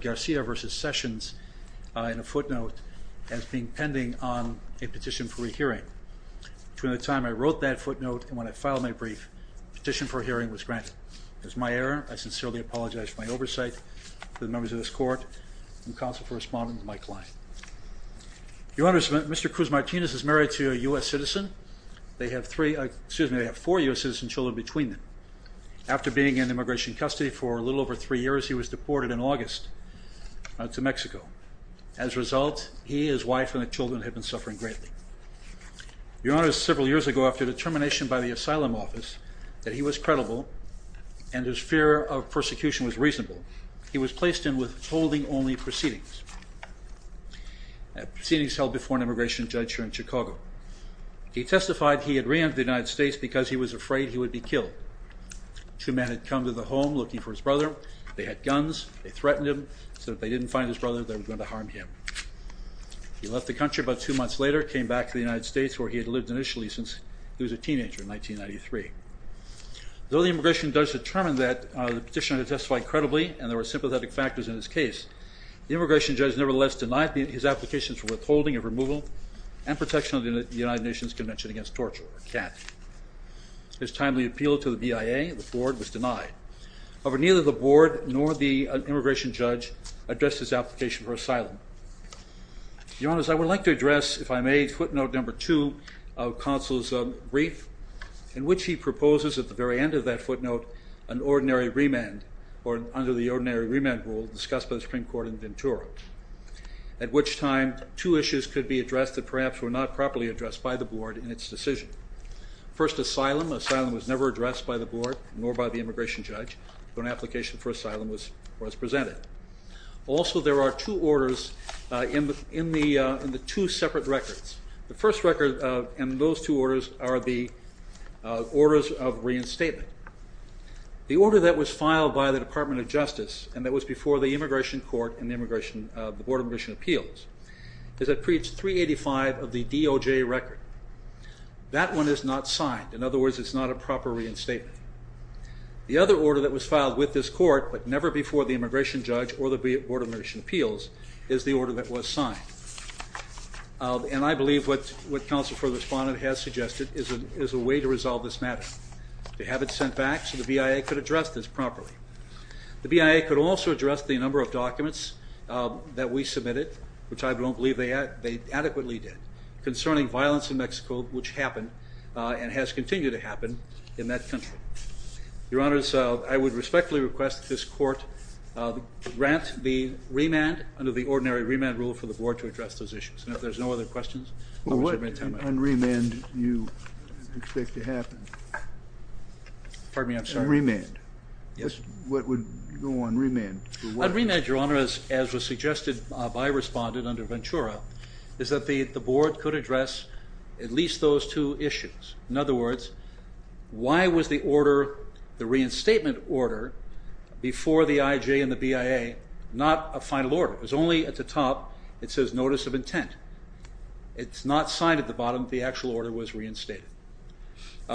Garcia v. Sessions in a footnote as being pending on a petition for a hearing. Between the time I wrote that footnote and when I filed my brief, petition for a hearing was granted. It was my error. I sincerely apologize for my oversight to the members of this court and counsel for responding to my client. Your Honor, Mr. Cruz Martinez is married to a U.S. citizen. They have three, excuse me, they have four U.S. citizen children between them. After being in immigration custody for a little over three years, he was deported in August. to Mexico. As a result, he, his wife, and the children had been suffering greatly. Your Honor, several years ago, after determination by the asylum office that he was credible and his fear of persecution was reasonable, he was placed in withholding only proceedings. Proceedings held before an immigration judge here in Chicago. He testified he had ran to the United States because he was afraid he would be killed. Two men had come to the home looking for his brother. They were going to harm him. He left the country about two months later, came back to the United States where he had lived initially since he was a teenager in 1993. Though the immigration judge determined that the petitioner testified credibly and there were sympathetic factors in his case, the immigration judge nevertheless denied his applications for withholding of removal and protection of the United Nations Convention Against Torture, or CAT. His timely appeal to the BIA, the board, was denied. Over neither the board nor the immigration judge addressed his application for asylum. Your Honor, as I would like to address, if I may, footnote number two of counsel's brief in which he proposes at the very end of that footnote an ordinary remand or under the ordinary remand rule discussed by the Supreme Court in Ventura, at which time two issues could be addressed that perhaps were not properly addressed by the board in its decision. First, asylum. Asylum was never addressed by the board nor by the immigration judge when an application for asylum was presented. Also, there are two orders in the two separate records. The first record and those two orders are the orders of reinstatement. The order that was filed by the Department of Justice and that was before the Immigration Court and the Board of Immigration Appeals is at page 385 of the DOJ record. That one is not signed. In other words, it's not a proper reinstatement. The other order that was filed with this court but never before the immigration judge or the Board of Immigration Appeals is the order that was signed. And I believe what counsel for the respondent has suggested is a way to resolve this matter. To have it sent back so the BIA could address this properly. The BIA could also address the number of documents that we submitted, which I don't believe they adequately did, concerning violence in Mexico which happened and has continued to happen in that country. Your Honor, I would respectfully request this court grant the remand under the ordinary remand rule for the board to address those issues. And if there's no other questions... What unremand do you expect to happen? Pardon me, I'm sorry. Unremand. Yes. What would go unremand? Unremand, Your Honor, as was suggested by a respondent under Ventura, is that the board could address at least those two issues. In other words, why was the order, the reinstatement order, before the IJ and the BIA not a final order? It was only at the top, it says notice of intent. It's not signed at the bottom, the actual order was reinstated.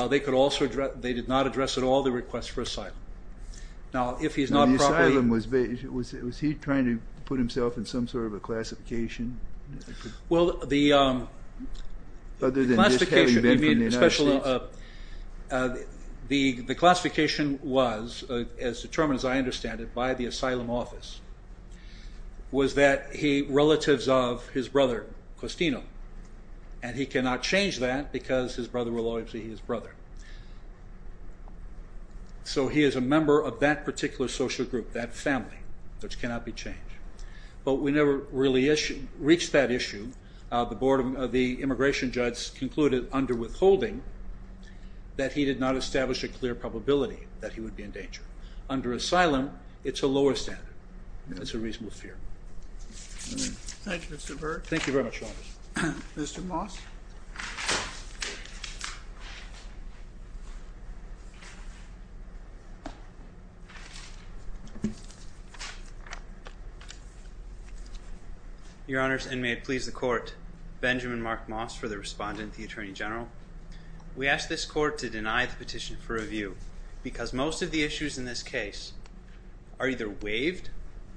They could also address, they did not address at all the request for asylum. Now if he's not properly... The asylum, was he trying to put himself in some sort of a classification? Well the... Other than just having been from the United States? The classification was, as determined as I understand it, by the asylum office, was that he, relatives of his brother, Costino, and he cannot change that because his brother will always be his brother. So he is a member of that particular social group, that family, which cannot be changed. But we never really reached that issue. The Board of the Immigration Judges concluded under withholding that he did not establish a clear probability that he would be in danger. Under asylum, it's a lower standard. It's a reasonable fear. Thank you, Mr. Burke. Thank you very much, Your Honor. Mr. Moss. Your Honors, and may it please the Court, Benjamin Mark Moss for the Respondent, the Attorney General. We ask this Court to deny the petition for review because most of the issues in this case are either waived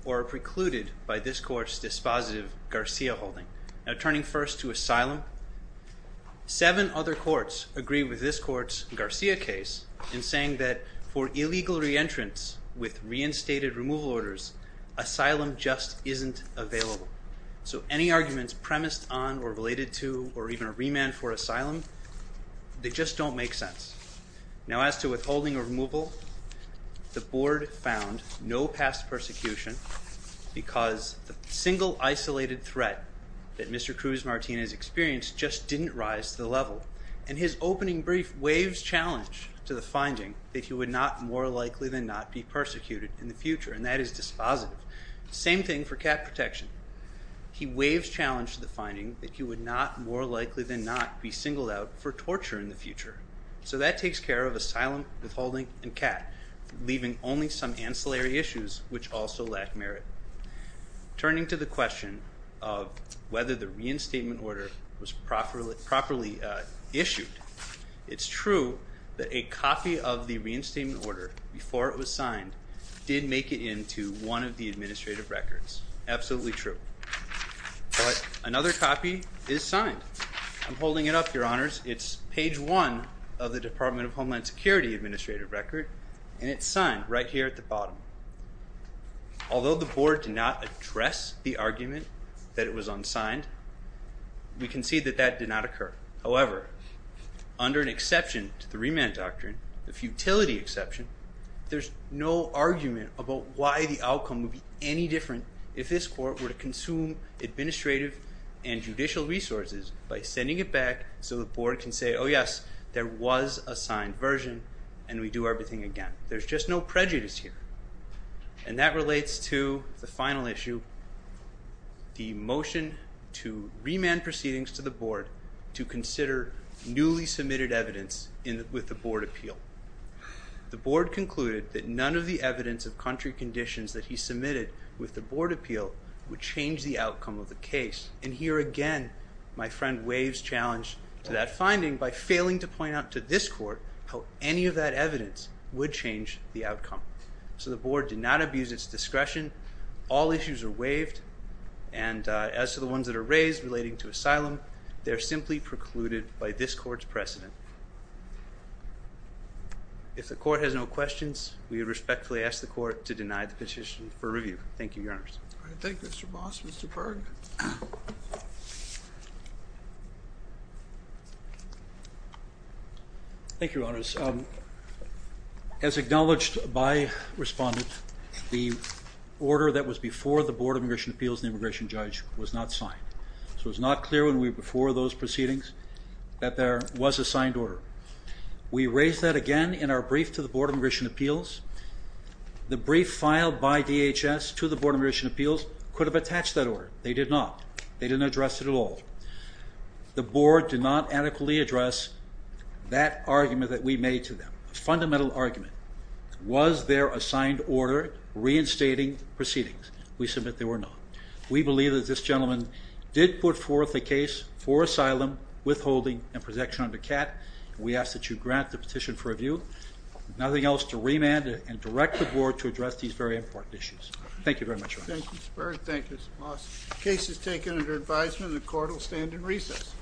or precluded by this Court's dispositive Garcia holding. Now turning first to asylum, seven other courts agree with this Court's Garcia case in saying that for illegal re-entrants with reinstated removal orders, asylum just isn't available. So any arguments premised on, or related to, or even a remand for asylum, they just don't make sense. Now as to withholding or removal, the Board found no past persecution because the single isolated threat that Mr. Cruz-Martinez experienced just didn't rise to the level. And his opening brief waves challenge to the finding that he would not, more likely than not, be persecuted in the future, and that is dispositive. Same thing for cat protection. He waves challenge to the finding that he would not, more likely than not, be singled out for torture in the future. So that takes care of asylum, withholding, and cat, leaving only some ancillary issues which also lack merit. Turning to the question of whether the reinstatement order was properly issued, it's true that a copy of the order before it was signed did make it into one of the administrative records. Absolutely true. But another copy is signed. I'm holding it up, Your Honors. It's page one of the Department of Homeland Security administrative record, and it's signed right here at the bottom. Although the Board did not address the argument that it was unsigned, we can see that that did not occur. However, under an exception to the remand doctrine, the futility exception, there's no argument about why the outcome would be any different if this Court were to consume administrative and judicial resources by sending it back so the Board can say, oh yes, there was a signed version, and we do everything again. There's just no prejudice here. And that relates to the final issue, the motion to remand proceedings to the Board to consider newly submitted evidence with the Board appeal. The Board concluded that none of the evidence of country conditions that he submitted with the Board appeal would change the outcome of the case, and here again my friend waves challenge to that finding by failing to point out to this Court how any of that evidence would change the outcome. So the Board did not abuse its discretion. All issues are waived, and as to the ones that are raised relating to asylum, they're simply precluded by this Court's precedent. If the Court has no questions, we respectfully ask the Court to deny the petition for review. Thank you, Your Honors. Thank you, Mr. Boss. Mr. Berg. Thank you, Your Honors. As acknowledged by respondents, the order that was before the board, so it's not clear when we were before those proceedings, that there was a signed order. We raised that again in our brief to the Board of Admission Appeals. The brief filed by DHS to the Board of Admission Appeals could have attached that order. They did not. They didn't address it at all. The Board did not adequately address that argument that we made to them, a fundamental argument. Was there a signed order reinstating proceedings? We submit there were not. We believe that this gentleman did put forth a case for asylum withholding and protection under CAT. We ask that you grant the petition for review. Nothing else to remand and direct the Board to address these very important issues. Thank you very much, Your Honors. Thank you, Mr. Berg. Thank you, Mr. Boss. The case is taken under advisement. The Court will stand in recess.